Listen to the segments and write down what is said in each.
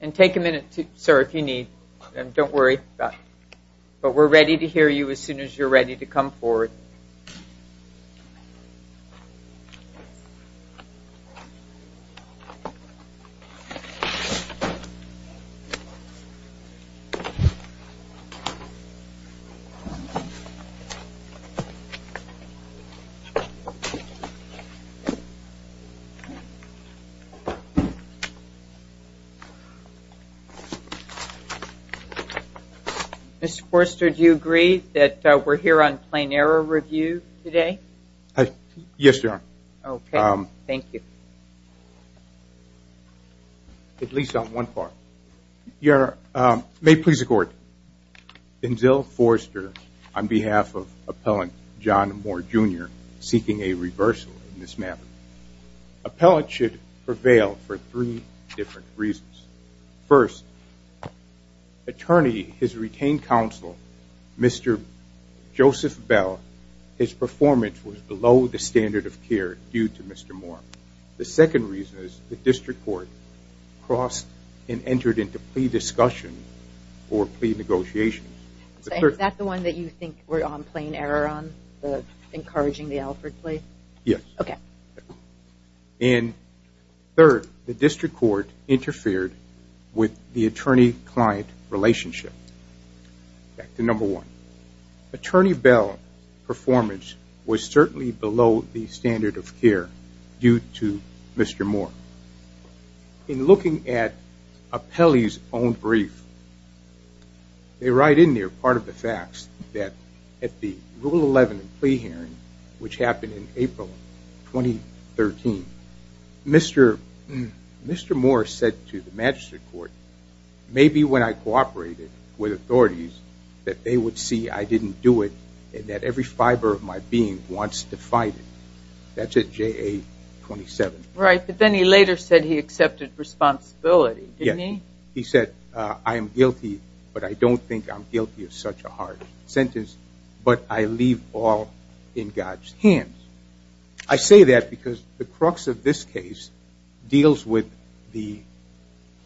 And take a minute, sir, if you need. Don't worry about it. But we're ready to hear you as soon as you're ready to come forward. Mr. Forrester, do you agree that we're here on plain error review today? Yes, ma'am. Okay. Thank you. At least on one part. Your Honor, may it please the Court, in Zill Forrester, on behalf of Appellant John Moore, Jr., seeking a reversal in this matter, Appellant should prevail for three different reasons. First, attorney, his retained counsel, Mr. Joseph Bell, his performance was below the standard of care due to Mr. Moore. The second reason is the district court crossed and entered into plea discussion or plea negotiations. Is that the one that you think we're on plain error on, encouraging the Alfred case? Yes. Okay. And third, the district court interfered with the attorney-client relationship. Back to number one. Attorney Bell's performance was certainly below the standard of care due to Mr. Moore. In looking at Appellee's own brief, they write in there part of the facts that at the Rule 11 plea hearing, which happened in April 2013, Mr. Moore said to the magistrate court, maybe when I cooperated with authorities that they would see I didn't do it and that every fiber of my being wants to fight it. That's at JA 27. Right, but then he later said he accepted responsibility, didn't he? Yes. He said, I am guilty, but I don't think I'm guilty of such a harsh sentence, but I leave all in God's hands. I say that because the crux of this case deals with the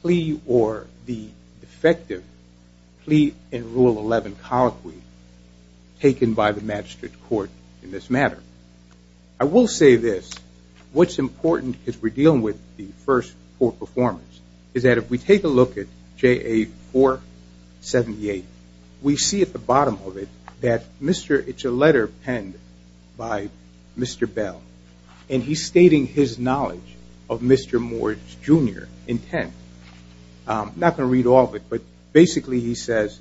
plea or the effective plea in Rule 11 colloquy taken by the magistrate court in this matter. I will say this, what's important as we're dealing with the first court performance is that if we take a look at JA 478, we see at the bottom of it that it's a letter penned by Mr. Bell, and he's stating his knowledge of Mr. Moore's junior intent. I'm not going to read all of it, but basically he says,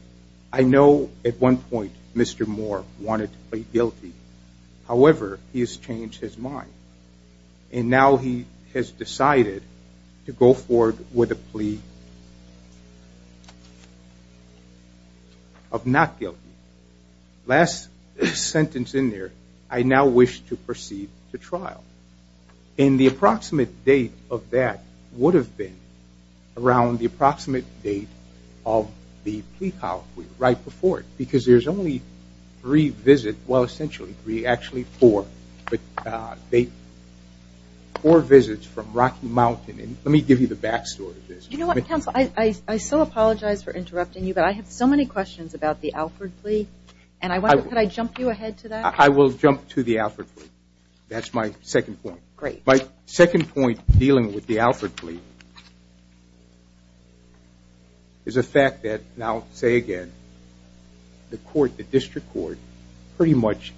I know at one point Mr. Moore wanted to plead guilty. However, he has changed his mind, and now he has decided to go forward with a plea of not guilty. Last sentence in there, I now wish to proceed to trial. And the approximate date of that would have been around the approximate date of the plea colloquy right before it, because there's only three visits, well, essentially three, actually four. Four visits from Rocky Mountain, and let me give you the back story of this. You know what, counsel, I still apologize for interrupting you, but I have so many questions about the Alford plea, and I wonder could I jump you ahead to that? I will jump to the Alford plea. That's my second point. Great. My second point dealing with the Alford plea is the fact that now, say again, the court, the district court, pretty much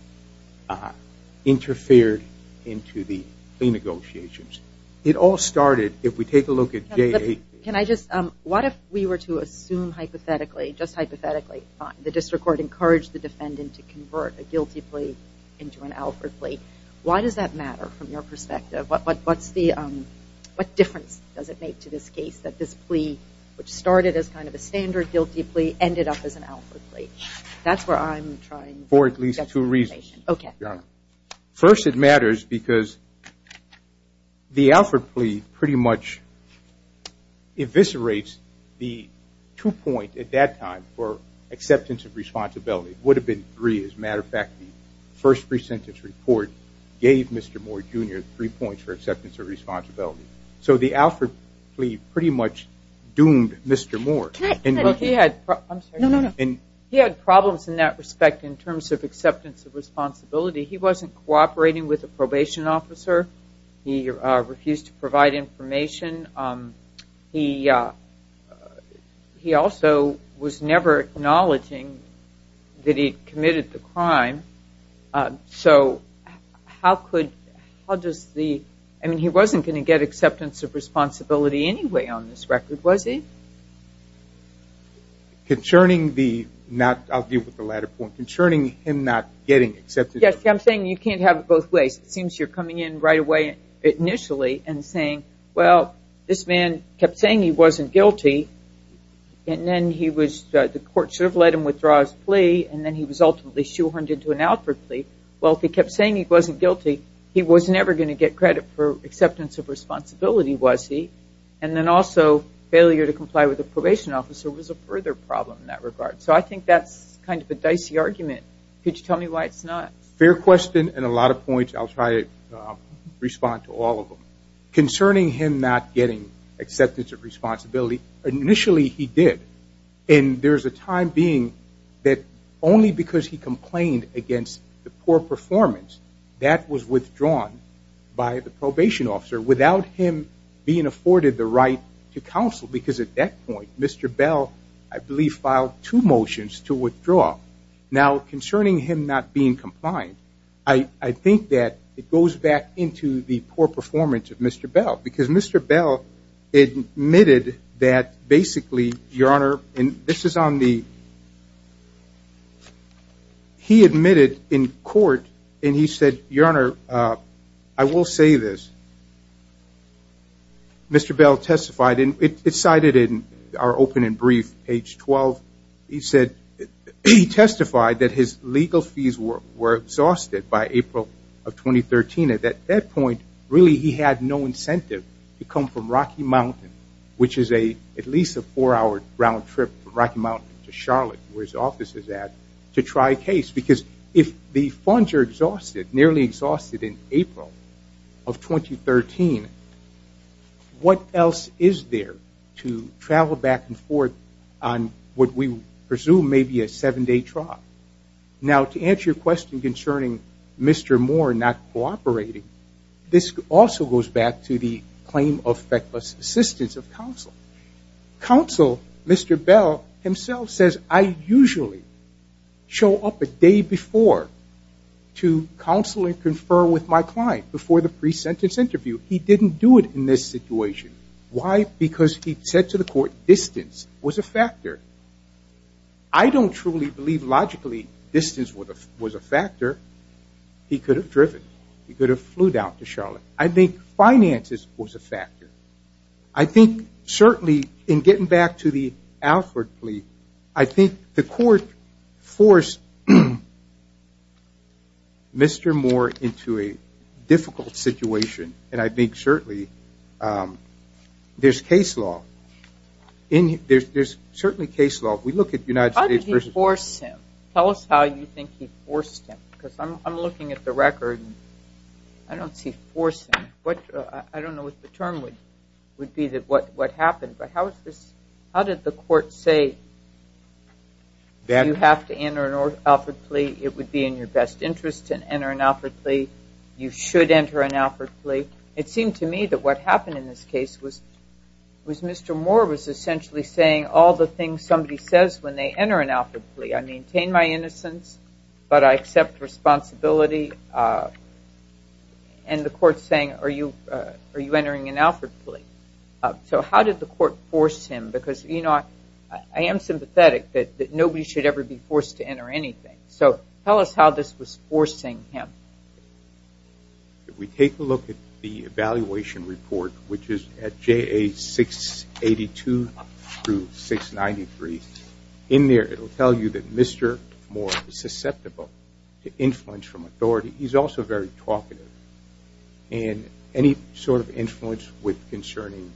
interfered into the plea negotiations. It all started, if we take a look at J.A. Can I just, what if we were to assume hypothetically, just hypothetically, the district court encouraged the defendant to convert a guilty plea into an Alford plea? Why does that matter from your perspective? Which started as kind of a standard guilty plea, ended up as an Alford plea. That's where I'm trying to get to. For at least two reasons. Okay. First, it matters because the Alford plea pretty much eviscerates the two points at that time for acceptance of responsibility. It would have been three. As a matter of fact, the first pre-sentence report gave Mr. Moore, Jr., three points for acceptance of responsibility. So the Alford plea pretty much doomed Mr. Moore. He had problems in that respect in terms of acceptance of responsibility. He wasn't cooperating with a probation officer. He refused to provide information. He also was never acknowledging that he'd committed the crime. So how could, how does the, I mean, he wasn't going to get acceptance of responsibility anyway on this record, was he? Concerning the not, I'll deal with the latter point. Concerning him not getting acceptance. Yes, I'm saying you can't have it both ways. It seems you're coming in right away initially and saying, well, this man kept saying he wasn't guilty, and then he was, the court sort of let him withdraw his plea, and then he was ultimately shoehorned into an Alford plea. Well, if he kept saying he wasn't guilty, he was never going to get credit for acceptance of responsibility, was he? And then also failure to comply with the probation officer was a further problem in that regard. So I think that's kind of a dicey argument. Could you tell me why it's not? Fair question and a lot of points. I'll try to respond to all of them. Concerning him not getting acceptance of responsibility, initially he did. And there's a time being that only because he complained against the poor performance, that was withdrawn by the probation officer without him being afforded the right to counsel. Because at that point, Mr. Bell, I believe, filed two motions to withdraw. Now, concerning him not being compliant, I think that it goes back into the poor performance of Mr. Bell. Because Mr. Bell admitted that basically, Your Honor, and this is on the he admitted in court, and he said, Your Honor, I will say this. Mr. Bell testified, and it's cited in our open and brief, page 12. He said he testified that his legal fees were exhausted by April of 2013. At that point, really he had no incentive to come from Rocky Mountain, which is at least a four-hour round trip from Rocky Mountain to Charlotte, where his office is at, to try a case. Because if the funds are exhausted, nearly exhausted in April of 2013, what else is there to travel back and forth on what we presume may be a seven-day trial? Now, to answer your question concerning Mr. Moore not cooperating, this also goes back to the claim of feckless assistance of counsel. Counsel, Mr. Bell himself says, I usually show up a day before to counsel and confer with my client, before the pre-sentence interview. He didn't do it in this situation. Why? Because he said to the court distance was a factor. I don't truly believe logically distance was a factor. He could have driven. He could have flew down to Charlotte. I think finances was a factor. I think certainly in getting back to the Alford plea, I think the court forced Mr. Moore into a difficult situation, and I think certainly there's case law. How did he force him? Tell us how you think he forced him, because I'm looking at the record. I don't see forcing. I don't know what the term would be, what happened. But how did the court say, do you have to enter an Alford plea? It would be in your best interest to enter an Alford plea. You should enter an Alford plea. It seemed to me that what happened in this case was Mr. Moore, was essentially saying all the things somebody says when they enter an Alford plea. I maintain my innocence, but I accept responsibility. And the court's saying, are you entering an Alford plea? So how did the court force him? Because, you know, I am sympathetic that nobody should ever be forced to enter anything. So tell us how this was forcing him. If we take a look at the evaluation report, which is at JA 682 through 693, in there it will tell you that Mr. Moore is susceptible to influence from authority. He's also very talkative. And any sort of influence concerning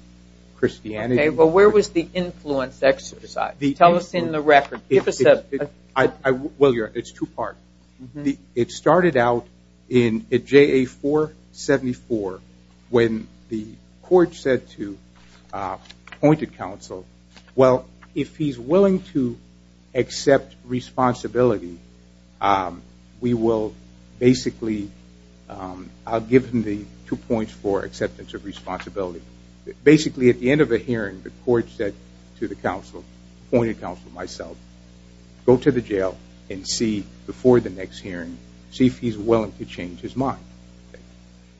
Christianity. Okay, but where was the influence exercised? Tell us in the record. Give us a... Well, it's two parts. It started out at JA 474 when the court said to appointed counsel, well, if he's willing to accept responsibility, we will basically... I'll give him the two points for acceptance of responsibility. Basically at the end of the hearing, the court said to the counsel, appointed counsel myself, go to the jail and see before the next hearing, see if he's willing to change his mind.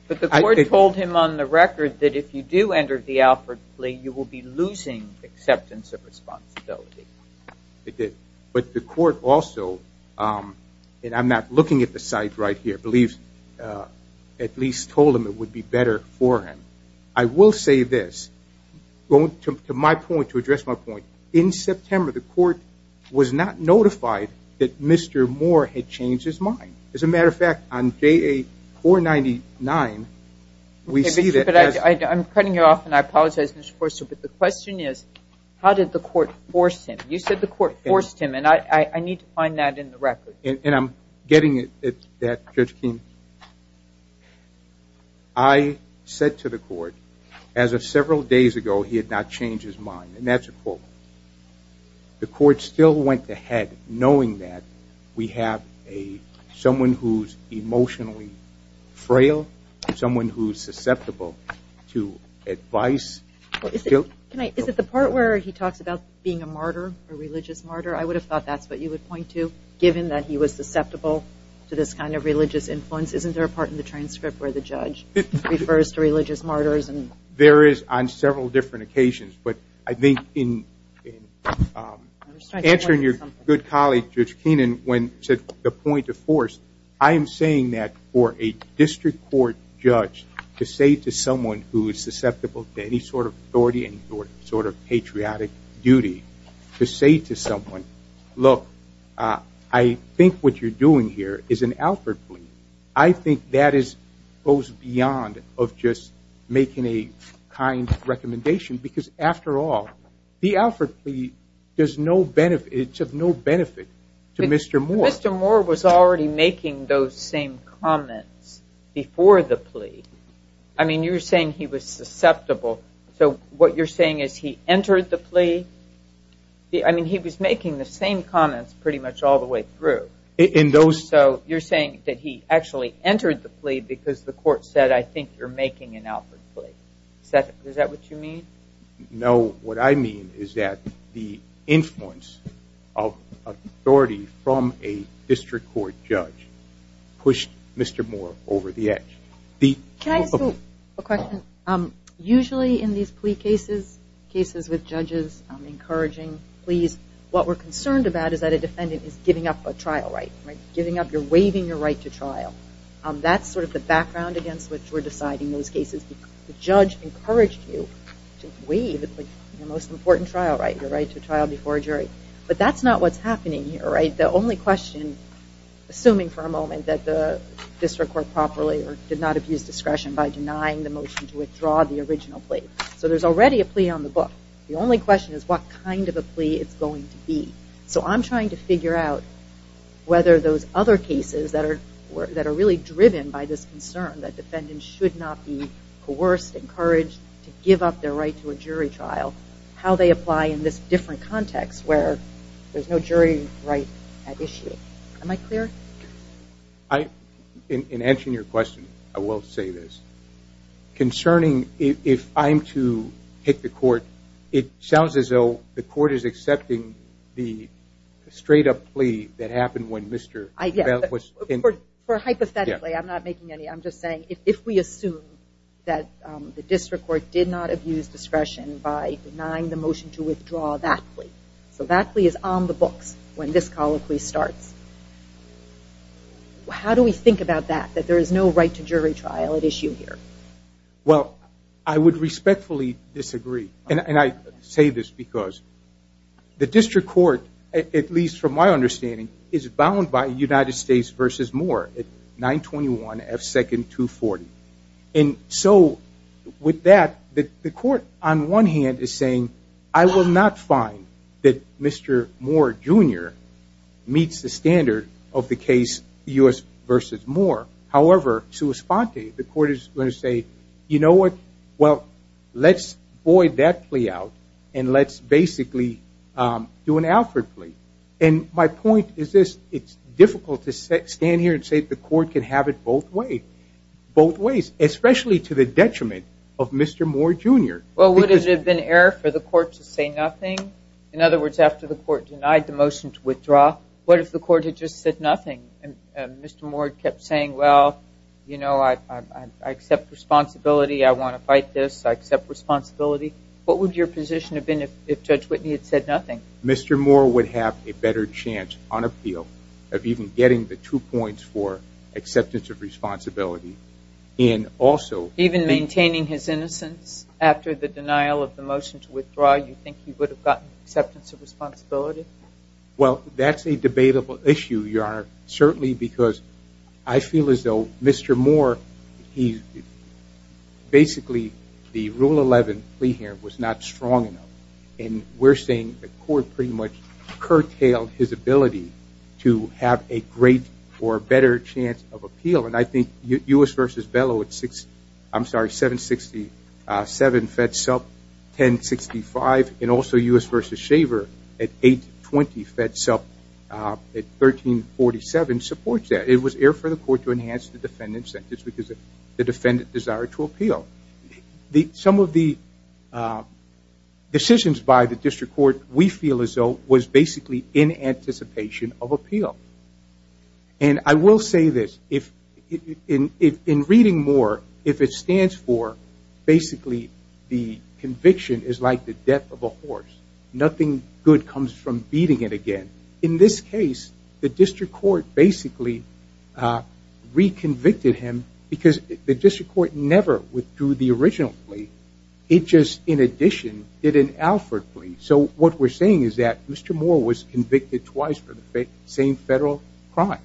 But the court told him on the record that if you do enter the Alford plea, you will be losing acceptance of responsibility. It did. But the court also, and I'm not looking at the site right here, believes at least told him it would be better for him. I will say this. Going to my point, to address my point. In September, the court was not notified that Mr. Moore had changed his mind. As a matter of fact, on JA 499, we see that... Okay, but I'm cutting you off, and I apologize, Mr. Forster, but the question is, how did the court force him? You said the court forced him, and I need to find that in the record. And I'm getting at that, Judge Keene. I said to the court, as of several days ago, he had not changed his mind. And that's a quote. The court still went ahead knowing that we have someone who's emotionally frail, someone who's susceptible to advice. Is it the part where he talks about being a martyr, a religious martyr? I would have thought that's what you would point to, given that he was susceptible to this kind of religious influence. Isn't there a part in the transcript where the judge refers to religious martyrs? There is on several different occasions. But I think in answering your good colleague, Judge Keene, when he said the point of force, I am saying that for a district court judge to say to someone who is susceptible to any sort of authority or any sort of patriotic duty, to say to someone, look, I think what you're doing here is an Alford plea, I think that goes beyond just making a kind recommendation. Because, after all, the Alford plea is of no benefit to Mr. Moore. Mr. Moore was already making those same comments before the plea. I mean, you're saying he was susceptible. So what you're saying is he entered the plea. I mean, he was making the same comments pretty much all the way through. So you're saying that he actually entered the plea because the court said, I think you're making an Alford plea. Is that what you mean? No. What I mean is that the influence of authority from a district court judge pushed Mr. Moore over the edge. Can I ask you a question? Usually in these plea cases, cases with judges encouraging pleas, what we're concerned about is that a defendant is giving up a trial right. Giving up, you're waiving your right to trial. That's sort of the background against which we're deciding those cases. The judge encouraged you to waive your most important trial right, your right to trial before a jury. But that's not what's happening here, right? The only question, assuming for a moment that the district court properly or did not abuse discretion by denying the motion to withdraw the original plea. So there's already a plea on the book. The only question is what kind of a plea it's going to be. So I'm trying to figure out whether those other cases that are really driven by this concern that defendants should not be coerced, encouraged to give up their right to a jury trial, how they apply in this different context where there's no jury right at issue. Am I clear? In answering your question, I will say this. Concerning if I'm to hit the court, it sounds as though the court is accepting the straight-up plea that happened when Mr. Bell was... For hypothetically, I'm not making any. I'm just saying if we assume that the district court did not abuse discretion by denying the motion to withdraw that plea. So that plea is on the books when this colloquy starts. How do we think about that, that there is no right to jury trial at issue here? Well, I would respectfully disagree. And I say this because the district court, at least from my understanding, is bound by United States v. Moore at 921 F. 2nd, 240. And so with that, the court, on one hand, is saying, I will not find that Mr. Moore, Jr. meets the standard of the case U.S. v. Moore. However, sua sponte, the court is going to say, you know what, well, let's void that plea out and let's basically do an Alfred plea. And my point is this. It's difficult to stand here and say the court can have it both ways, especially to the detriment of Mr. Moore, Jr. Well, would it have been error for the court to say nothing? In other words, after the court denied the motion to withdraw, what if the court had just said nothing and Mr. Moore kept saying, well, you know, I accept responsibility. I want to fight this. I accept responsibility. What would your position have been if Judge Whitney had said nothing? That Mr. Moore would have a better chance on appeal of even getting the two points for acceptance of responsibility. Even maintaining his innocence after the denial of the motion to withdraw, you think he would have gotten acceptance of responsibility? Well, that's a debatable issue, Your Honor, certainly because I feel as though Mr. Moore, basically the Rule 11 plea here, was not strong enough. And we're saying the court pretty much curtailed his ability to have a great or better chance of appeal. And I think U.S. v. Bellow at 767 fed sub 1065 and also U.S. v. Shaver at 820 fed sub at 1347 supports that. It was error for the court to enhance the defendant's sentence because of the defendant's desire to appeal. Some of the decisions by the district court, we feel as though, was basically in anticipation of appeal. And I will say this, in reading Moore, if it stands for basically the conviction is like the death of a horse, nothing good comes from beating it again. In this case, the district court basically reconvicted him because the district court never withdrew the original plea. It just, in addition, did an Alford plea. So what we're saying is that Mr. Moore was convicted twice for the same federal crime.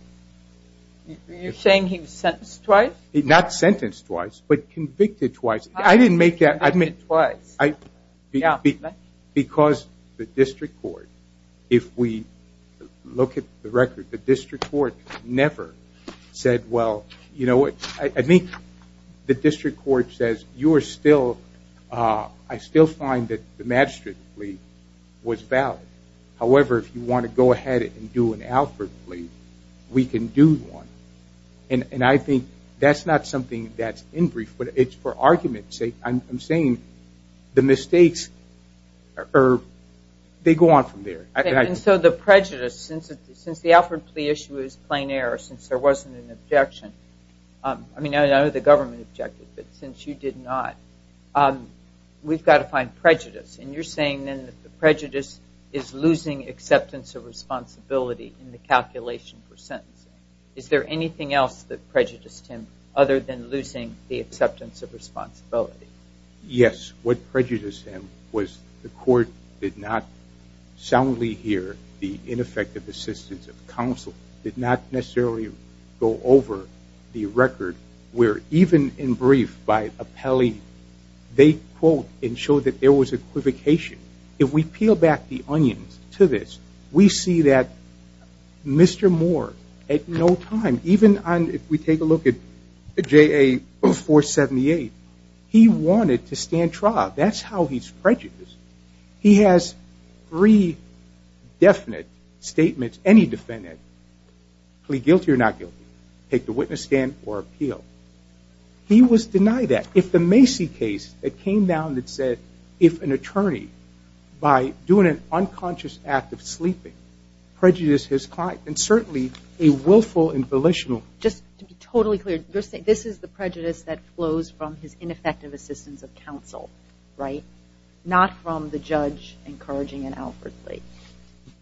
You're saying he was sentenced twice? Not sentenced twice, but convicted twice. I didn't make that. Convicted twice. Because the district court, if we look at the record, the district court never said, well, you know what? I think the district court says I still find that the magistrate plea was valid. However, if you want to go ahead and do an Alford plea, we can do one. And I think that's not something that's in brief, but it's for argument's sake. I'm saying the mistakes, they go on from there. And so the prejudice, since the Alford plea issue is plain error, since there wasn't an objection, I mean, I know the government objected, but since you did not, we've got to find prejudice. And you're saying then that the prejudice is losing acceptance of responsibility in the calculation for sentencing. Is there anything else that prejudiced him other than losing the acceptance of responsibility? Yes. What prejudiced him was the court did not soundly hear the ineffective assistance of counsel, did not necessarily go over the record, where even in brief, by appellee, they quote and show that there was equivocation. If we peel back the onions to this, we see that Mr. Moore, at no time, even if we take a look at JA 478, he wanted to stand trial. That's how he's prejudiced. He has three definite statements, any defendant, plea guilty or not guilty, take the witness stand or appeal. He was denied that. If the Macy case that came down that said if an attorney, by doing an unconscious act of sleeping, prejudiced his client, and certainly a willful and volitional. Just to be totally clear, this is the prejudice that flows from his ineffective assistance of counsel, right? Not from the judge encouraging it outwardly.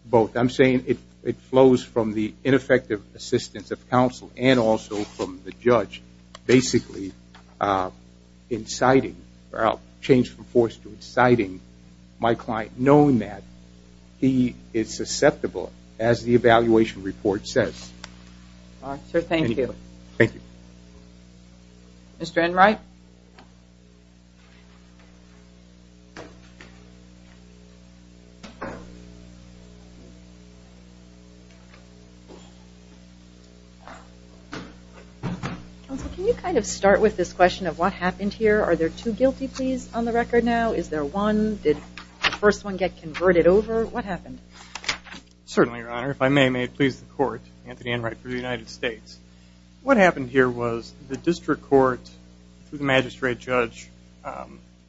Both. I'm saying it flows from the ineffective assistance of counsel and also from the judge basically inciting or change from force to inciting my client, knowing that he is susceptible, as the evaluation report says. Thank you. Thank you. Mr. Enright? Counsel, can you kind of start with this question of what happened here? Are there two guilty pleas on the record now? Is there one? Did the first one get converted over? What happened? Certainly, Your Honor. If I may, may it please the Court, Anthony Enright for the United States. What happened here was the district court, the magistrate judge,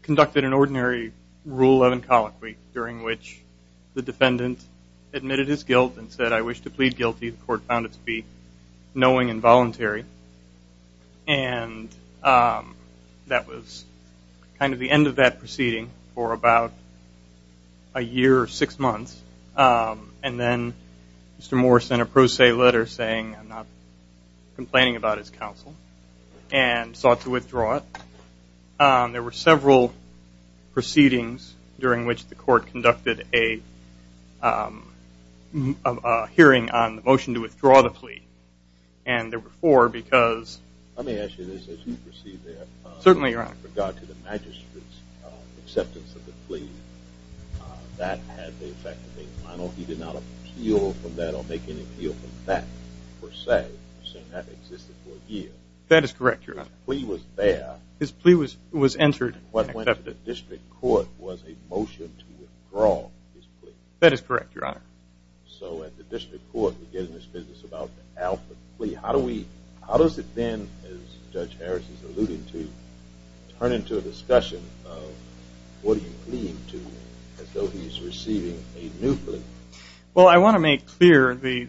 conducted an ordinary Rule 11 colloquy during which the defendant admitted his guilt and said, I wish to plead guilty. The court found it to be knowing and voluntary. And that was kind of the end of that proceeding for about a year or six months. And then Mr. Moore sent a pro se letter saying I'm not complaining about his counsel and sought to withdraw it. There were several proceedings during which the court conducted a hearing on the motion to withdraw the plea. And there were four because – Let me ask you this as you proceed there. Certainly, Your Honor. With regard to the magistrate's acceptance of the plea, that had the effect of being final. He did not appeal from that or make any appeal from that per se. You're saying that existed for a year. That is correct, Your Honor. The plea was there. His plea was entered and accepted. What went to the district court was a motion to withdraw his plea. That is correct, Your Honor. So at the district court, we get in this business about the Alford plea. How does it then, as Judge Harris has alluded to, turn into a discussion of what do you plead to as though he's receiving a new plea? Well, I want to make clear the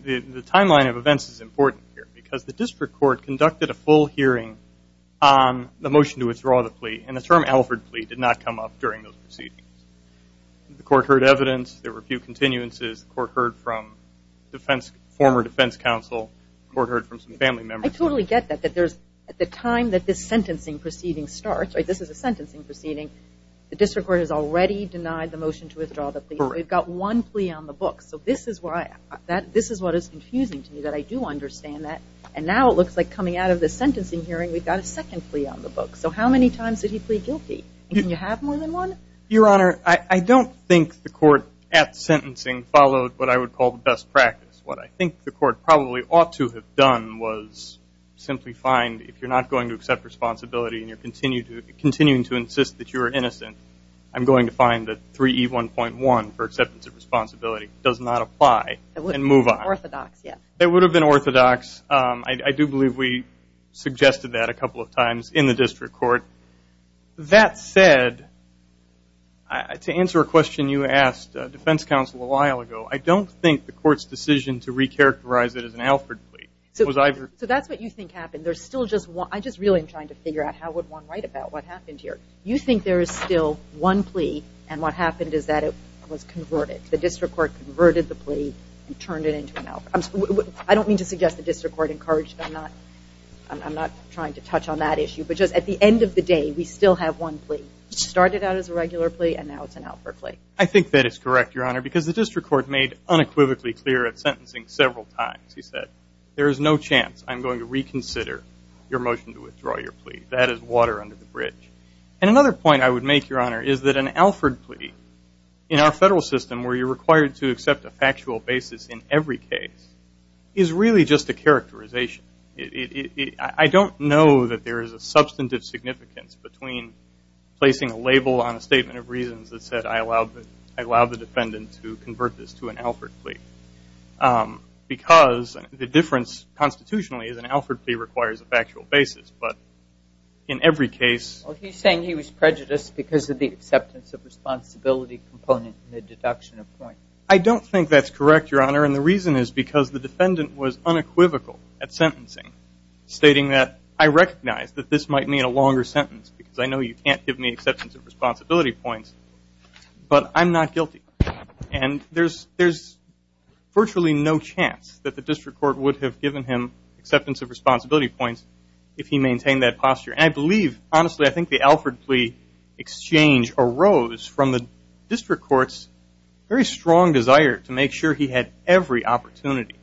timeline of events is important here because the district court conducted a full hearing on the motion to withdraw the plea, and the term Alford plea did not come up during those proceedings. The court heard evidence. There were a few continuances. The court heard from former defense counsel. The court heard from some family members. I totally get that. At the time that this sentencing proceeding starts, this is a sentencing proceeding, the district court has already denied the motion to withdraw the plea. We've got one plea on the book. So this is what is confusing to me, that I do understand that. And now it looks like coming out of this sentencing hearing, we've got a second plea on the book. So how many times did he plead guilty? Can you have more than one? Your Honor, I don't think the court at sentencing followed what I would call the best practice. What I think the court probably ought to have done was simply find, if you're not going to accept responsibility and you're continuing to insist that you're innocent, I'm going to find that 3E1.1 for acceptance of responsibility does not apply and move on. It would have been orthodox, yes. It would have been orthodox. I do believe we suggested that a couple of times in the district court. That said, to answer a question you asked defense counsel a while ago, I don't think the court's decision to recharacterize it as an Alford plea. So that's what you think happened. I just really am trying to figure out how would one write about what happened here. You think there is still one plea, and what happened is that it was converted. The district court converted the plea and turned it into an Alford. I don't mean to suggest the district court encouraged that. I'm not trying to touch on that issue. But just at the end of the day, we still have one plea. It started out as a regular plea, and now it's an Alford plea. I think that is correct, Your Honor, because the district court made unequivocally clear at sentencing several times. He said there is no chance I'm going to reconsider your motion to withdraw your plea. That is water under the bridge. Another point I would make, Your Honor, is that an Alford plea in our federal system, where you're required to accept a factual basis in every case, is really just a characterization. I don't know that there is a substantive significance between placing a label on a statement of reasons that said, I allow the defendant to convert this to an Alford plea, because the difference constitutionally is an Alford plea requires a factual basis. But in every case. Well, he's saying he was prejudiced because of the acceptance of responsibility component in the deduction of a point. I don't think that's correct, Your Honor, and the reason is because the defendant was unequivocal at sentencing, stating that I recognize that this might mean a longer sentence, because I know you can't give me acceptance of responsibility points, but I'm not guilty. And there's virtually no chance that the district court would have given him acceptance of responsibility points if he maintained that posture. And I believe, honestly, I think the Alford plea exchange arose from the district court's very strong desire to make sure he had every opportunity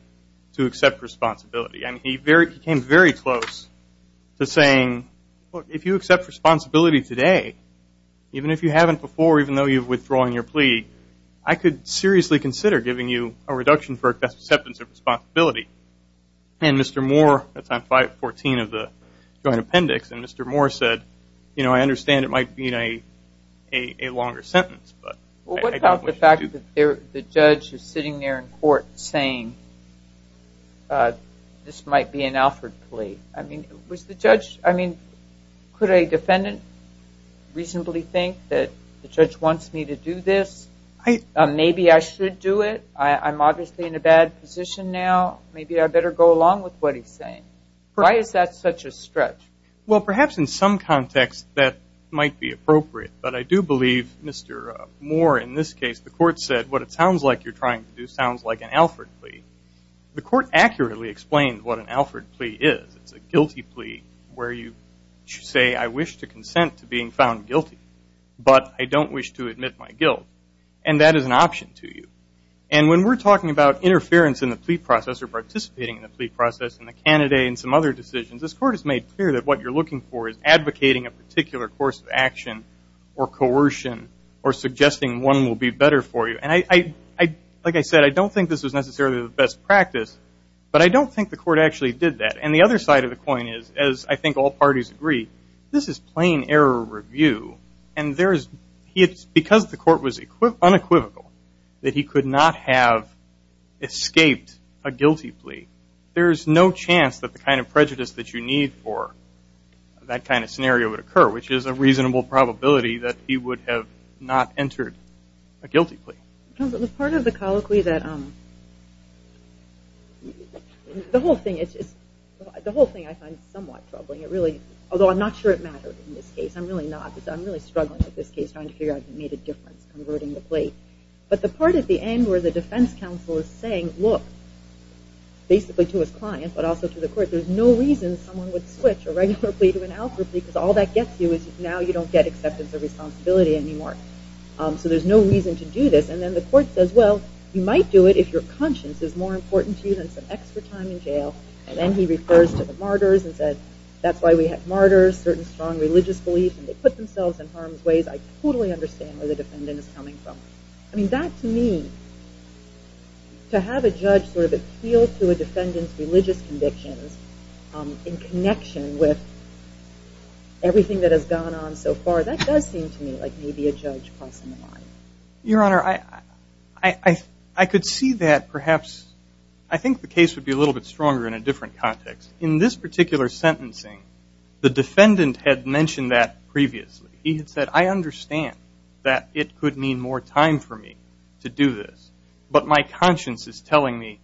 to accept responsibility. I mean, he came very close to saying, look, if you accept responsibility today, even if you haven't before, even though you've withdrawn your plea, I could seriously consider giving you a reduction for acceptance of responsibility. And Mr. Moore, that's on 514 of the Joint Appendix, and Mr. Moore said, you know, I understand it might mean a longer sentence. Well, what about the fact that the judge is sitting there in court saying this might be an Alford plea? I mean, could a defendant reasonably think that the judge wants me to do this? Maybe I should do it. I'm obviously in a bad position now. Maybe I better go along with what he's saying. Why is that such a stretch? Well, perhaps in some context that might be appropriate, but I do believe Mr. Moore in this case, the court said, what it sounds like you're trying to do sounds like an Alford plea. The court accurately explained what an Alford plea is. It's a guilty plea where you say, I wish to consent to being found guilty, but I don't wish to admit my guilt, and that is an option to you. And when we're talking about interference in the plea process or participating in the plea process and the candidate and some other decisions, this court has made clear that what you're looking for is advocating a particular course of action or coercion or suggesting one will be better for you. And like I said, I don't think this was necessarily the best practice, but I don't think the court actually did that. And the other side of the coin is, as I think all parties agree, this is plain error review, and because the court was unequivocal that he could not have escaped a guilty plea, there's no chance that the kind of prejudice that you need for that kind of scenario would occur, which is a reasonable probability that he would have not entered a guilty plea. Counsel, the part of the colloquy that the whole thing I find somewhat troubling, although I'm not sure it mattered in this case. I'm really not. I'm really struggling with this case trying to figure out if it made a difference converting the plea. But the part at the end where the defense counsel is saying, look, basically to his client, but also to the court, there's no reason someone would switch a regular plea to an algebra plea because all that gets you is now you don't get acceptance of responsibility anymore. So there's no reason to do this. And then the court says, well, you might do it if your conscience is more important to you than some extra time in jail. And then he refers to the martyrs and says, that's why we have martyrs, certain strong religious beliefs, and they put themselves in harm's ways. I totally understand where the defendant is coming from. I mean, that to me, to have a judge sort of appeal to a defendant's religious convictions in connection with everything that has gone on so far, that does seem to me like maybe a judge crossing the line. Your Honor, I could see that perhaps. I think the case would be a little bit stronger in a different context. In this particular sentencing, the defendant had mentioned that previously. He had said, I understand that it could mean more time for me to do this, but my conscience is telling me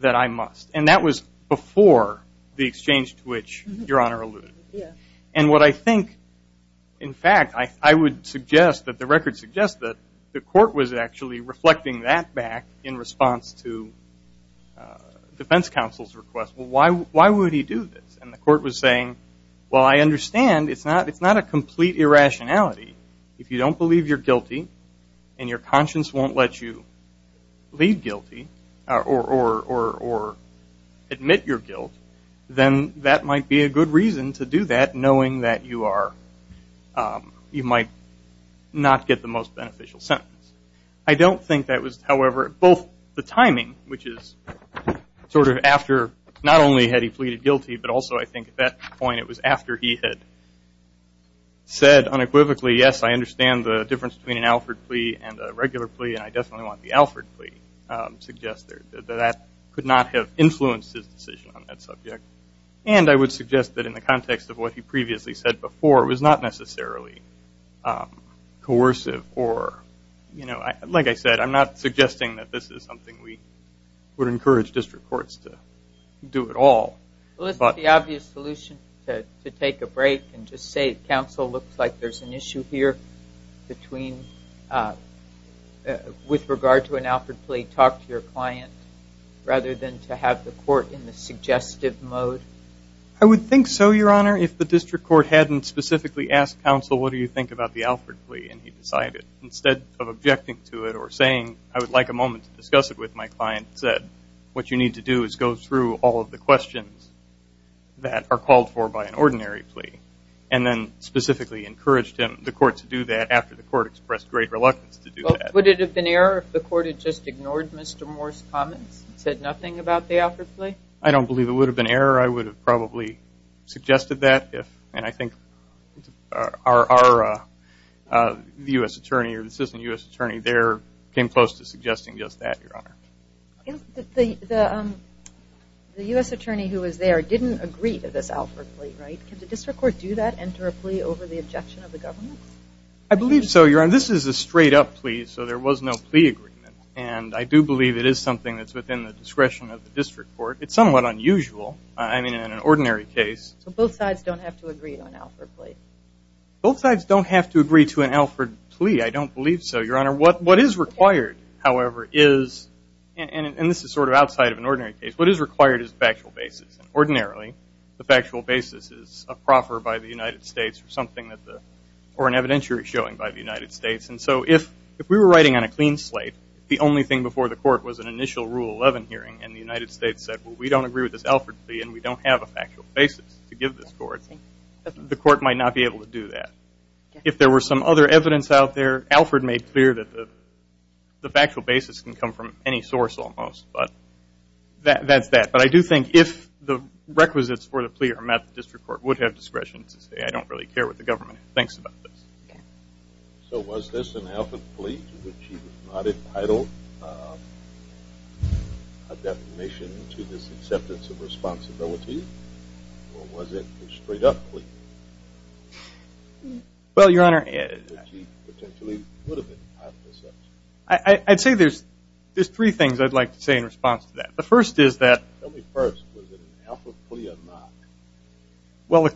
that I must. And that was before the exchange to which Your Honor alluded. And what I think, in fact, I would suggest that the record suggests that the court was actually reflecting that back in response to defense counsel's request. Well, why would he do this? And the court was saying, well, I understand. It's not a complete irrationality. If you don't believe you're guilty and your conscience won't let you leave guilty or admit your guilt, then that might be a good reason to do that, knowing that you might not get the most beneficial sentence. I don't think that was, however, both the timing, which is sort of after not only had he pleaded guilty, but also I think at that point it was after he had said unequivocally, yes, I understand the difference between an Alford plea and a regular plea, and I definitely want the Alford plea suggested. That could not have influenced his decision on that subject. And I would suggest that in the context of what he previously said before, it was not necessarily coercive or, like I said, I'm not suggesting that this is something we would encourage district courts to do at all. Well, isn't the obvious solution to take a break and just say counsel looks like there's an issue here with regard to an Alford plea, talk to your client rather than to have the court in the suggestive mode? I would think so, Your Honor, if the district court hadn't specifically asked counsel, what do you think about the Alford plea, and he decided instead of objecting to it or saying I would like a moment to discuss it with my client, what you need to do is go through all of the questions that are called for by an ordinary plea and then specifically encourage the court to do that after the court expressed great reluctance to do that. Would it have been error if the court had just ignored Mr. Moore's comments and said nothing about the Alford plea? I don't believe it would have been error. I would have probably suggested that if, and I think our U.S. attorney or assistant U.S. attorney there came close to suggesting just that, Your Honor. The U.S. attorney who was there didn't agree to this Alford plea, right? Can the district court do that, enter a plea over the objection of the government? I believe so, Your Honor. This is a straight-up plea, so there was no plea agreement, and I do believe it is something that's within the discretion of the district court. It's somewhat unusual, I mean, in an ordinary case. So both sides don't have to agree to an Alford plea? Both sides don't have to agree to an Alford plea. I don't believe so, Your Honor. What is required, however, is, and this is sort of outside of an ordinary case, what is required is a factual basis, and ordinarily the factual basis is a proffer by the United States or something that the, or an evidentiary showing by the United States. And so if we were writing on a clean slate, the only thing before the court was an initial Rule 11 hearing, and the United States said, well, we don't agree with this Alford plea and we don't have a factual basis to give this court, the court might not be able to do that. If there were some other evidence out there, Alford made clear that the factual basis can come from any source almost, but that's that. But I do think if the requisites for the plea are met, the district court would have discretion to say, I don't really care what the government thinks about this. Okay. So was this an Alford plea to which he was not entitled, a defamation to this acceptance of responsibility, or was it a straight up plea? Well, Your Honor. Which he potentially would have been entitled to accept. I'd say there's three things I'd like to say in response to that. The first is that. Tell me first, was it an Alford plea or not? Well,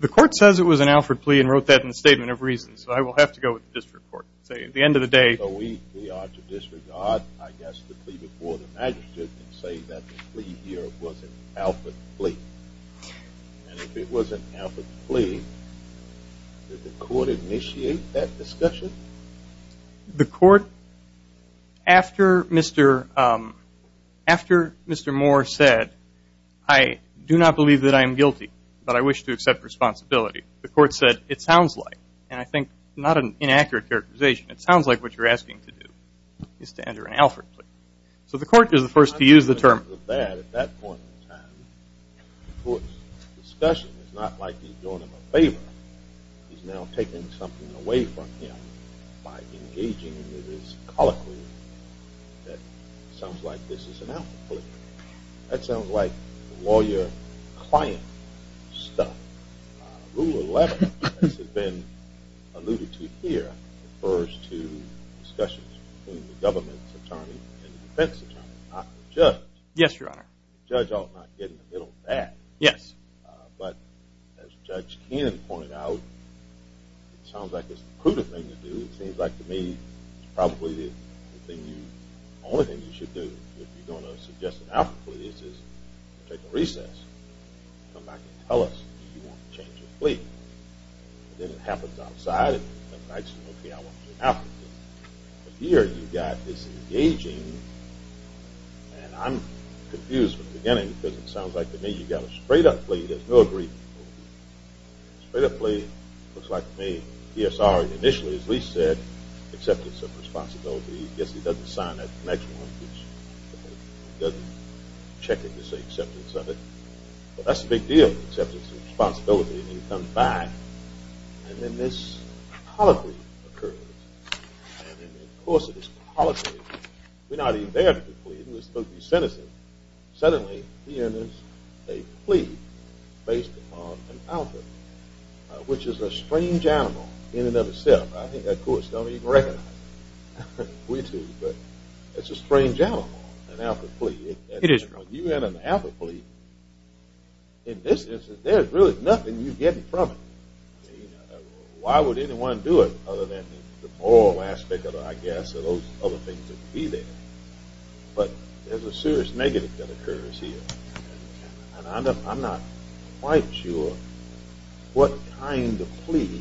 the court says it was an Alford plea and wrote that in the Statement of Reasons, so I will have to go with the district court. At the end of the day. So we are to disregard, I guess, the plea before the magistrate and say that the plea here was an Alford plea. And if it was an Alford plea, did the court initiate that discussion? The court, after Mr. Moore said, I do not believe that I am guilty, but I wish to accept responsibility, the court said, it sounds like, and I think not an inaccurate characterization, it sounds like what you're asking to do is to enter an Alford plea. So the court is the first to use the term. At that point in time, the court's discussion is not like he's doing him a favor. He's now taking something away from him by engaging in this colloquy that sounds like this is an Alford plea. That sounds like lawyer-client stuff. Rule 11, as has been alluded to here, refers to discussions between the government's attorney and the defense attorney, not the judge. Yes, Your Honor. The judge ought not get in the middle of that. Yes. But as Judge Ken pointed out, it sounds like it's a prudent thing to do. It seems like to me it's probably the only thing you should do if you're going to suggest an Alford plea is take a recess. Come back and tell us if you want to change your plea. Then it happens outside. Okay, I want to do an Alford plea. But here you've got this engaging, and I'm confused from the beginning because it sounds like to me you've got a straight-up plea. There's no agreement. Straight-up plea, looks like to me, DSR initially, as Lee said, acceptance of responsibility. I guess he doesn't sign that next one. He doesn't check it to say acceptance of it. Well, that's a big deal, acceptance of responsibility, and he comes back. And then this apology occurs, and in the course of this apology, we're not even there for the plea. It was supposed to be sentencing. Suddenly, he enters a plea based upon an Alford, which is a strange animal in and of itself. I think that courts don't even recognize it. We do, but it's a strange animal, an Alford plea. It is. Now, if you had an Alford plea, in this instance, there's really nothing you're getting from it. Why would anyone do it other than the moral aspect of it, I guess, or those other things that would be there. But there's a serious negative that occurs here, and I'm not quite sure what kind of plea,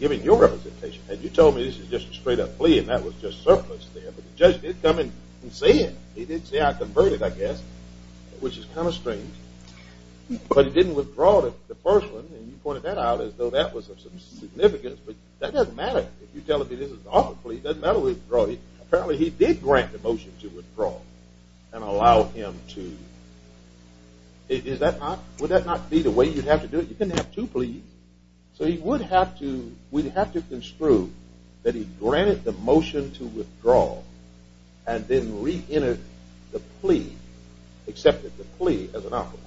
given your representation. You told me this is just a straight-up plea, and that was just surplus there, but the judge did come in and say it. He did say, I converted, I guess, which is kind of strange. But he didn't withdraw the first one, and you pointed that out as though that was of some significance, but that doesn't matter. If you tell him this is an Alford plea, it doesn't matter whether he withdrew it. Apparently, he did grant the motion to withdraw and allow him to. Would that not be the way you'd have to do it? You couldn't have two pleas. So we'd have to construe that he granted the motion to withdraw and then reentered the plea, accepted the plea as an Alford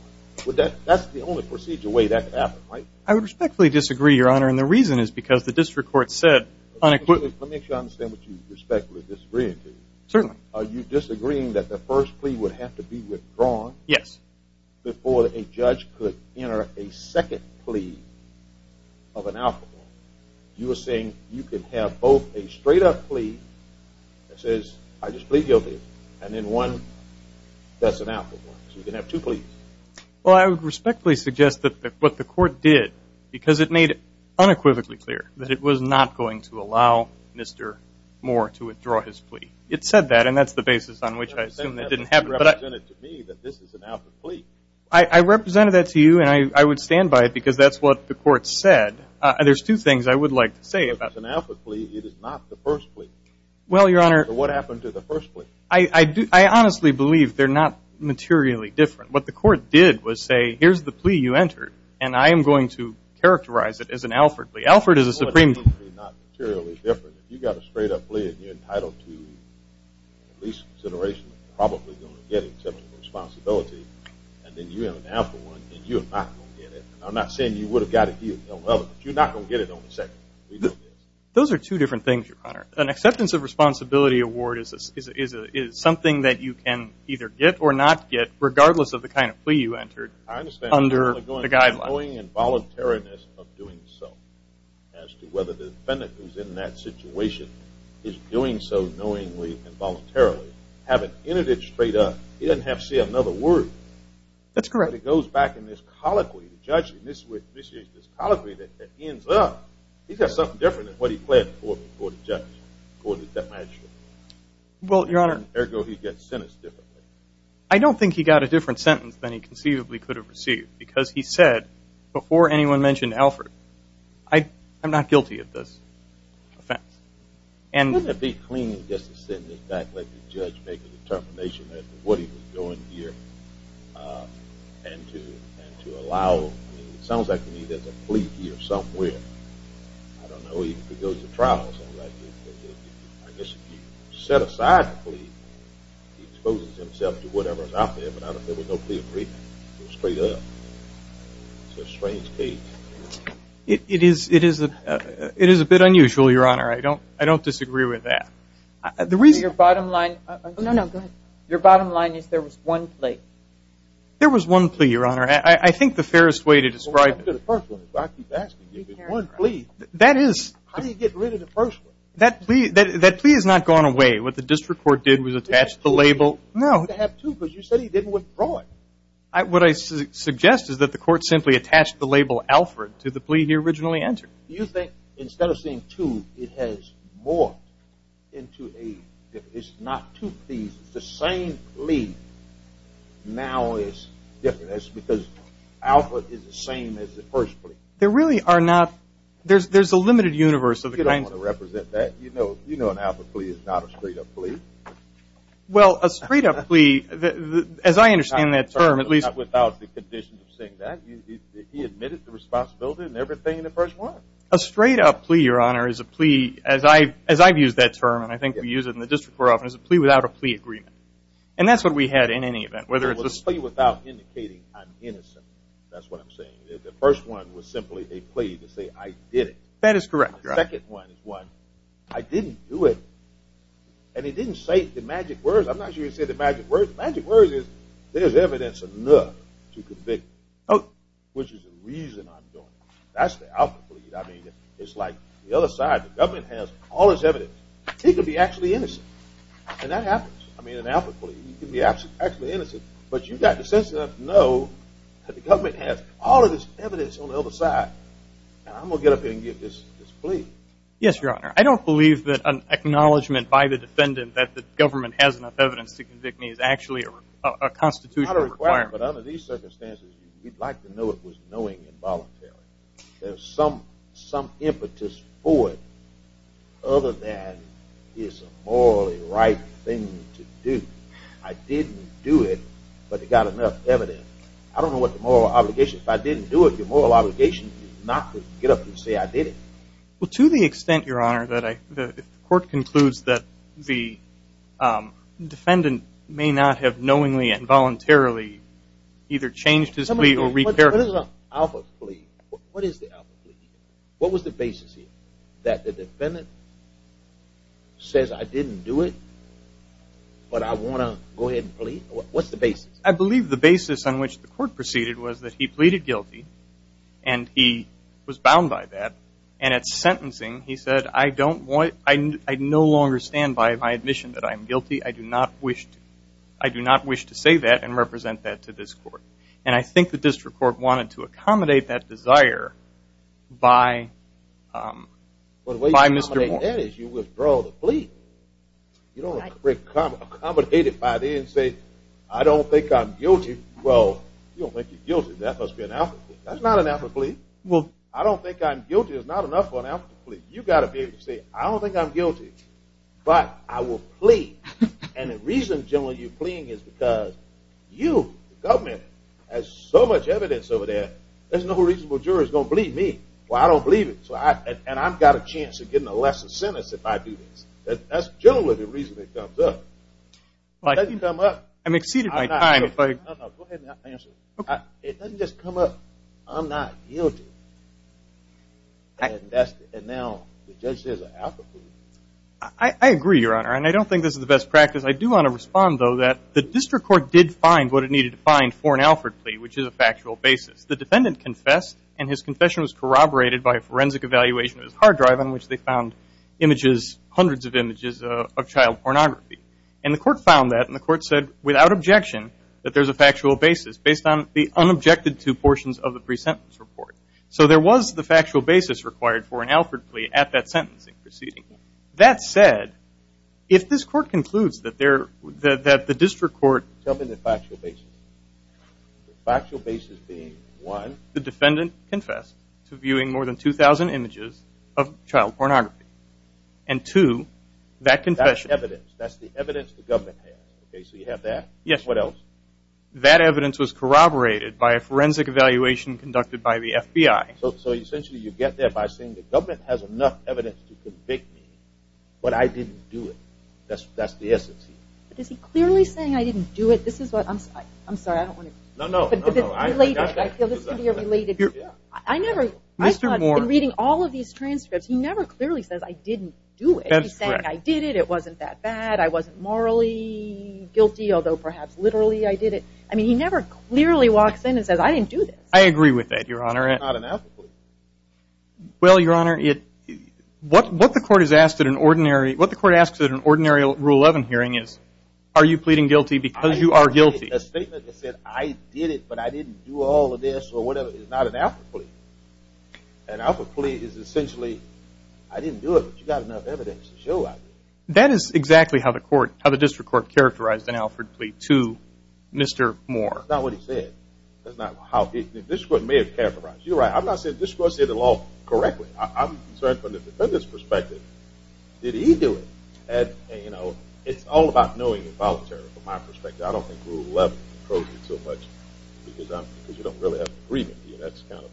one. That's the only procedural way that could happen, right? I would respectfully disagree, Your Honor, and the reason is because the district court said unequivocally. Let me make sure I understand what you respectfully disagree with. Certainly. Are you disagreeing that the first plea would have to be withdrawn? Yes. Before a judge could enter a second plea of an Alford one. You were saying you could have both a straight-up plea that says, I just plead guilty, and then one that's an Alford one. So you could have two pleas. Well, I would respectfully suggest that what the court did, because it made it unequivocally clear that it was not going to allow Mr. Moore to withdraw his plea. It said that, and that's the basis on which I assume that didn't happen. You represented to me that this is an Alford plea. I represented that to you, and I would stand by it because that's what the court said. There's two things I would like to say about that. It's an Alford plea. It is not the first plea. Well, Your Honor. So what happened to the first plea? I honestly believe they're not materially different. What the court did was say, here's the plea you entered, and I am going to characterize it as an Alford plea. Alford is a Supreme Court plea. Well, it's not materially different. If you got a straight-up plea and you're entitled to at least consideration of probably going to get it except for the responsibility, and then you have an Alford one and you're not going to get it, I'm not saying you would have got it, but you're not going to get it on the second one. Those are two different things, Your Honor. An acceptance of responsibility award is something that you can either get or not get regardless of the kind of plea you entered under the guidelines. I understand. You're going to be going in voluntariness of doing so as to whether the defendant who's in that situation is doing so knowingly and voluntarily. Having entered it straight up, you didn't have to say another word. That's correct. But it goes back in this colloquy of judging, this colloquy that ends up. He's got something different than what he pled before the judge, before the detachment. Well, Your Honor. Ergo, he gets sentenced differently. I don't think he got a different sentence than he conceivably could have received because he said before anyone mentioned Alford, I'm not guilty of this offense. Wouldn't it be clean just to send this back and let the judge make a determination as to what he was doing here and to allow, I mean, it sounds like to me there's a plea here somewhere. I don't know. He could go to trial or something like that. I guess if you set aside the plea, he exposes himself to whatever's out there, but I don't think there was no plea agreement. It was straight up. It's a strange case. It is a bit unusual, Your Honor. I don't disagree with that. Your bottom line is there was one plea. There was one plea, Your Honor. I think the fairest way to describe it is one plea. How do you get rid of the first one? That plea has not gone away. What the district court did was attach the label. No. You said he didn't withdraw it. What I suggest is that the court simply attached the label Alford to the plea he originally entered. Do you think instead of saying two, it has morphed into a difference? It's not two pleas. It's the same plea. Now it's different. That's because Alford is the same as the first plea. There really are not. There's a limited universe of the kinds of plea. You don't want to represent that. You know an Alford plea is not a straight up plea. Well, a straight up plea, as I understand that term, at least. Without the conditions of saying that, he admitted the responsibility and everything in the first one. A straight up plea, Your Honor, is a plea, as I've used that term, and I think we use it in the district court often, is a plea without a plea agreement. And that's what we had in any event. Whether it's a plea without indicating I'm innocent, that's what I'm saying. The first one was simply a plea to say I did it. That is correct. The second one is one, I didn't do it. And he didn't say the magic words. I'm not sure he said the magic words. There's evidence enough to convict me, which is the reason I'm doing it. That's the Alford plea. I mean, it's like the other side. The government has all this evidence. He could be actually innocent, and that happens. I mean, an Alford plea, you can be actually innocent, but you've got the sense to know that the government has all of this evidence on the other side, and I'm going to get up there and give this plea. Yes, Your Honor. I don't believe that an acknowledgment by the defendant that the government has enough evidence to convict me is actually a constitutional requirement. Not a requirement, but under these circumstances, you'd like to know it was knowing and voluntary. There's some impetus for it other than it's a morally right thing to do. I didn't do it, but it got enough evidence. I don't know what the moral obligation is. If I didn't do it, the moral obligation is not to get up and say I did it. Well, to the extent, Your Honor, that if the court concludes that the defendant may not have knowingly and voluntarily either changed his plea or repaired it. What is an Alford plea? What is the Alford plea? What was the basis here? That the defendant says, I didn't do it, but I want to go ahead and plead? What's the basis? I believe the basis on which the court proceeded was that he pleaded guilty and he was bound by that, and at sentencing he said, I no longer stand by my admission that I'm guilty. I do not wish to say that and represent that to this court. And I think the district court wanted to accommodate that desire by Mr. Moore. Well, the way you accommodate that is you withdraw the plea. You don't accommodate it by the end and say, I don't think I'm guilty. Well, you don't think you're guilty. That must be an Alford plea. That's not an Alford plea. I don't think I'm guilty is not enough for an Alford plea. You've got to be able to say, I don't think I'm guilty, but I will plead. And the reason, generally, you're pleading is because you, the government, has so much evidence over there there's no reasonable jurors going to believe me. Well, I don't believe it, and I've got a chance of getting a lesser sentence if I do this. That's generally the reason it comes up. It doesn't come up. I'm exceeding my time. Go ahead and answer. It doesn't just come up, I'm not guilty. And now the judge says an Alford plea. I agree, Your Honor, and I don't think this is the best practice. I do want to respond, though, that the district court did find what it needed to find for an Alford plea, which is a factual basis. The defendant confessed, and his confession was corroborated by a forensic evaluation of his hard drive on which they found hundreds of images of child pornography. And the court found that, and the court said, without objection, that there's a factual basis based on the unobjected two portions of the pre-sentence report. So there was the factual basis required for an Alford plea at that sentencing proceeding. That said, if this court concludes that the district court – Tell me the factual basis. The factual basis being, one, the defendant confessed to viewing more than 2,000 images of child pornography. And, two, that confession – That's the evidence the government has. So you have that. Yes. What else? That evidence was corroborated by a forensic evaluation conducted by the FBI. So essentially you get there by saying the government has enough evidence to convict me, but I didn't do it. That's the essence. But is he clearly saying I didn't do it? This is what I'm – I'm sorry, I don't want to – No, no, no, no, I got that. I feel this could be a related – I never – Mr. Moore. In reading all of these transcripts, he never clearly says I didn't do it. That's correct. He's saying I did it, it wasn't that bad, I wasn't morally guilty, although perhaps literally I did it. I mean, he never clearly walks in and says I didn't do this. I agree with that, Your Honor. It's not an alphabet. Well, Your Honor, what the court has asked at an ordinary – are you pleading guilty because you are guilty? A statement that said I did it, but I didn't do all of this or whatever is not an alpha plea. An alpha plea is essentially I didn't do it, but you've got enough evidence to show I did it. That is exactly how the court – how the district court characterized an alpha plea to Mr. Moore. That's not what he said. That's not how – this is what may have characterized it. You're right, I'm not saying this court said it all correctly. I'm concerned from the defendant's perspective. Did he do it? And, you know, it's all about knowing involuntarily from my perspective. I don't think Rule 11 approves it so much because you don't really have an agreement. That's kind of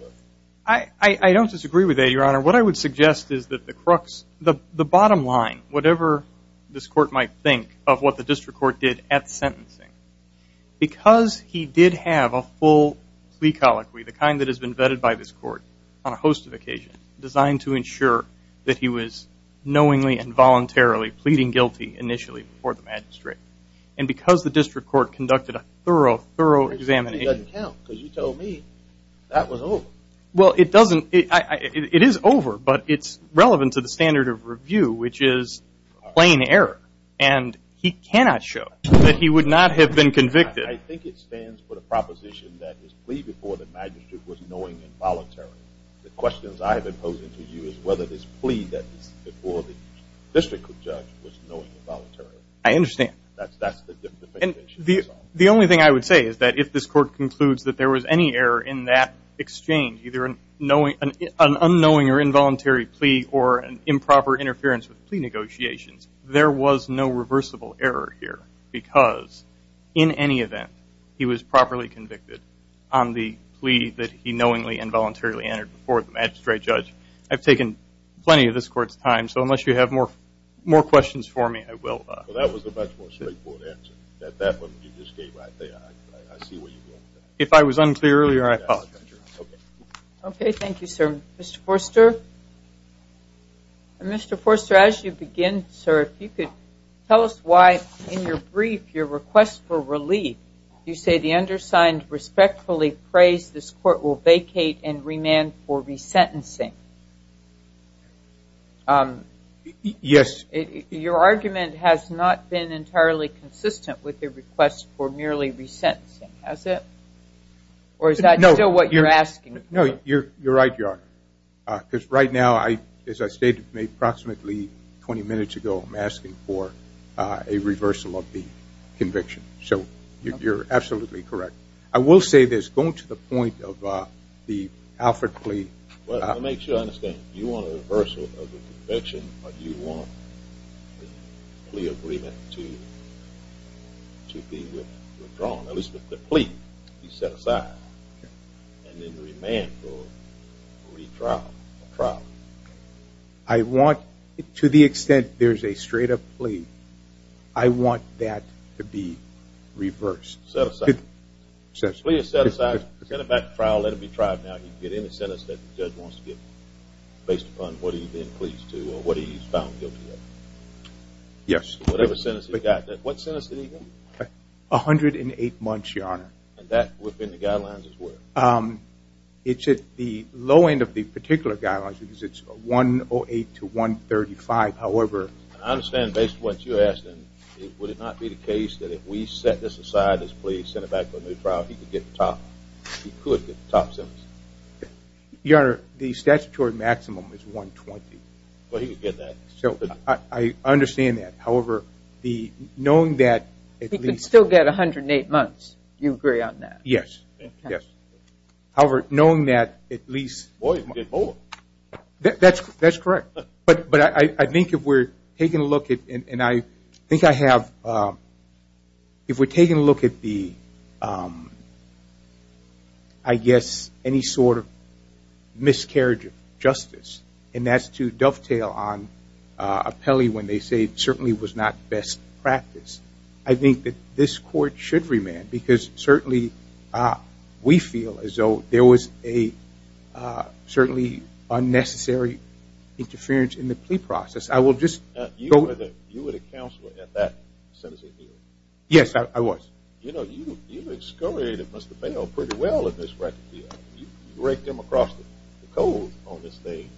a – I don't disagree with that, Your Honor. What I would suggest is that the crux, the bottom line, whatever this court might think of what the district court did at sentencing, because he did have a full plea colloquy, the kind that has been vetted by this court on a host of occasions, designed to ensure that he was knowingly and voluntarily pleading guilty initially before the magistrate, and because the district court conducted a thorough, thorough examination. It doesn't count because you told me that was over. Well, it doesn't – it is over, but it's relevant to the standard of review, which is plain error, and he cannot show that he would not have been convicted. I think it stands for the proposition that his plea before the magistrate was knowingly and voluntarily. The questions I have been posing to you is whether this plea that was before the district judge was knowingly and voluntarily. I understand. That's the definition. The only thing I would say is that if this court concludes that there was any error in that exchange, either an unknowing or involuntary plea or improper interference with plea negotiations, there was no reversible error here because, in any event, he was properly convicted on the plea that he knowingly and voluntarily entered before the magistrate judge. I've taken plenty of this court's time, so unless you have more questions for me, I will. Well, that was a much more straightforward answer. That one you just gave right there, I see where you're going with that. If I was unclear earlier, I apologize. Okay. Okay. Thank you, sir. Mr. Forster. Mr. Forster, as you begin, sir, if you could tell us why in your brief your request for relief, you say the undersigned respectfully prays this court will vacate and remand for resentencing. Yes. Your argument has not been entirely consistent with the request for merely resentencing, has it? Or is that still what you're asking for? No, you're right, Your Honor, because right now, as I stated approximately 20 minutes ago, I'm asking for a reversal of the conviction. So you're absolutely correct. I will say this, going to the point of the Alfred plea. Well, to make sure I understand, you want a reversal of the conviction, or do you want the plea agreement to be withdrawn, at least the plea to be set aside, I want, to the extent there's a straight-up plea, I want that to be reversed. Set aside. Set aside. If the plea is set aside, send it back to trial, let it be tried, now you can get any sentence that the judge wants to get based upon what he's been pleased to or what he's found guilty of. Yes. Whatever sentence he's got. What sentence did he get? 108 months, Your Honor. And that within the guidelines as well? It's at the low end of the particular guidelines, because it's 108 to 135. However, I understand based on what you're asking, would it not be the case that if we set this aside, this plea, send it back to a new trial, he could get the top sentence? Your Honor, the statutory maximum is 120. But he could get that. I understand that. However, knowing that, He could still get 108 months. Do you agree on that? Yes. Yes. However, knowing that, at least. Well, he could get both. That's correct. But I think if we're taking a look at, and I think I have, if we're taking a look at the, I guess, any sort of miscarriage of justice, and that's to dovetail on appellee when they say it certainly was not best practice, I think that this court should remand, because certainly we feel as though there was a certainly unnecessary interference in the plea process. You were the counselor at that sentencing hearing? Yes, I was. You know, you excoriated Mr. Bale pretty well at this record hearing. You raked him across the cove on this thing.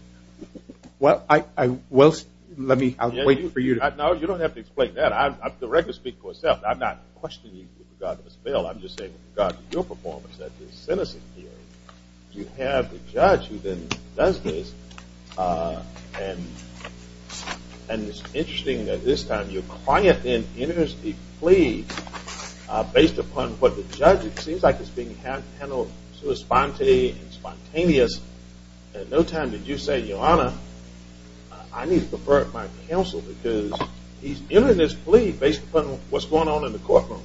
Well, let me wait for you to. No, you don't have to explain that. I'm directly speaking for myself. I'm not questioning you with regard to Ms. Bale. I'm just saying with regard to your performance at this sentencing hearing, you have the judge who then does this, and it's interesting that this time you're quiet in entering a plea based upon what the judge, it seems like it's being handled sort of spontaneously and spontaneous, and no time did you say, Your Honor, I need to defer it to my counsel, because he's entered this plea based upon what's going on in the courtroom,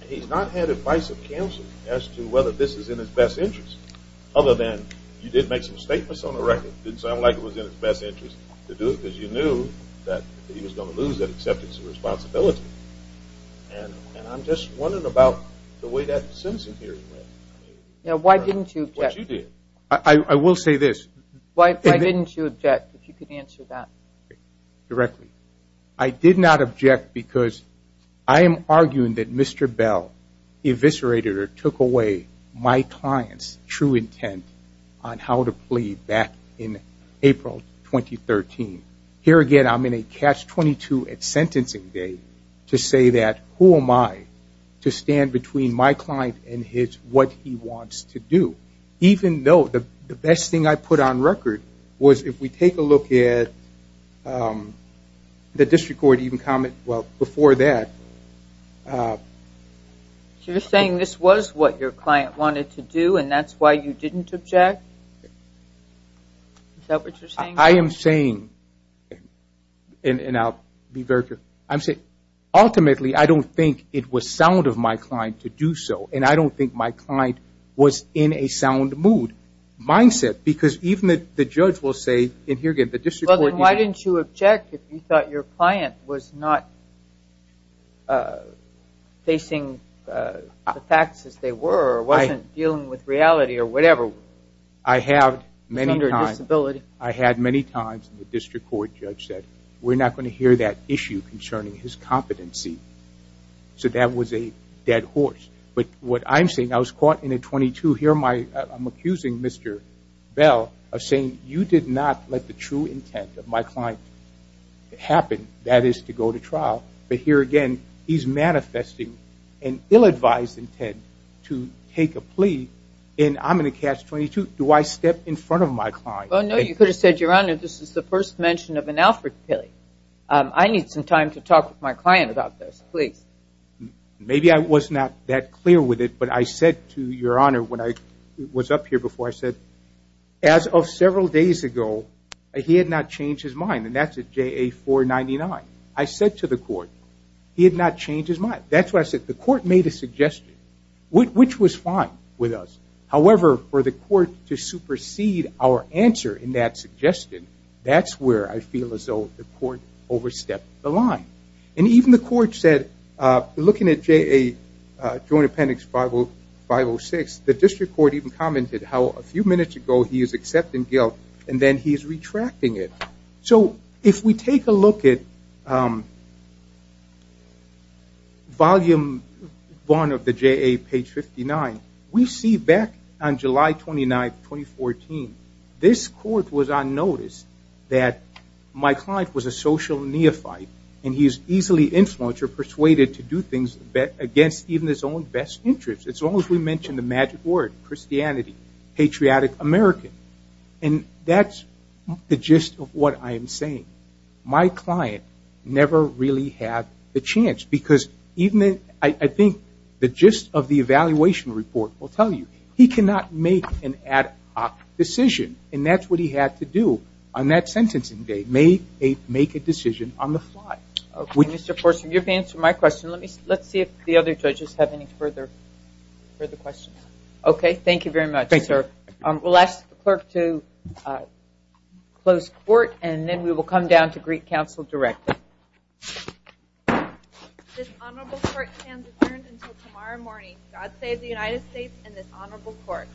and he's not had advice of counsel as to whether this is in his best interest, other than you did make some statements on the record. It didn't sound like it was in his best interest to do it, because you knew that he was going to lose that acceptance and responsibility, and I'm just wondering about the way that sentencing hearing went. Why didn't you? I will say this. Why didn't you object, if you could answer that? Directly. I did not object because I am arguing that Mr. Bale eviscerated or took away my client's true intent on how to plead back in April 2013. Here again, I'm in a catch-22 at sentencing day to say that, who am I to stand between my client and what he wants to do, even though the best thing I put on record was, if we take a look at the district court even comment before that. You're saying this was what your client wanted to do, and that's why you didn't object? Is that what you're saying? I am saying, and I'll be very clear, I'm saying ultimately I don't think it was sound of my client to do so, and I don't think my client was in a sound mood, mindset, because even the judge will say, and here again, the district court. Why didn't you object if you thought your client was not facing the facts as they were or wasn't dealing with reality or whatever? I have many times. He's under disability. I had many times the district court judge said, we're not going to hear that issue concerning his competency. So that was a dead horse. But what I'm saying, I was caught in a 22. Here I'm accusing Mr. Bell of saying, you did not let the true intent of my client happen, that is to go to trial. But here again, he's manifesting an ill-advised intent to take a plea, and I'm going to catch 22. Do I step in front of my client? Well, no, you could have said, Your Honor, this is the first mention of an Alfred Pilley. I need some time to talk with my client about this, please. Maybe I was not that clear with it, but I said to Your Honor when I was up here before, I said, as of several days ago, he had not changed his mind. And that's at JA-499. I said to the court, he had not changed his mind. That's why I said, the court made a suggestion, which was fine with us. However, for the court to supersede our answer in that suggestion, that's where I feel as though the court overstepped the line. And even the court said, looking at JA Joint Appendix 506, the district court even commented how a few minutes ago he is accepting guilt and then he is retracting it. So if we take a look at Volume 1 of the JA, page 59, we see back on July 29, 2014, this court was on notice that my client was a social neophyte and he is easily influenced or persuaded to do things against even his own best interests. As long as we mention the magic word, Christianity, patriotic American. And that's the gist of what I am saying. My client never really had the chance, because I think the gist of the evaluation report will tell you. He cannot make an ad hoc decision, and that's what he had to do on that sentencing day, make a decision on the fly. Okay, Mr. Forsen, you've answered my question. Let's see if the other judges have any further questions. Okay, thank you very much, sir. We'll ask the clerk to close court, and then we will come down to greet counsel directly. This honorable court stands adjourned until tomorrow morning. God save the United States and this honorable court.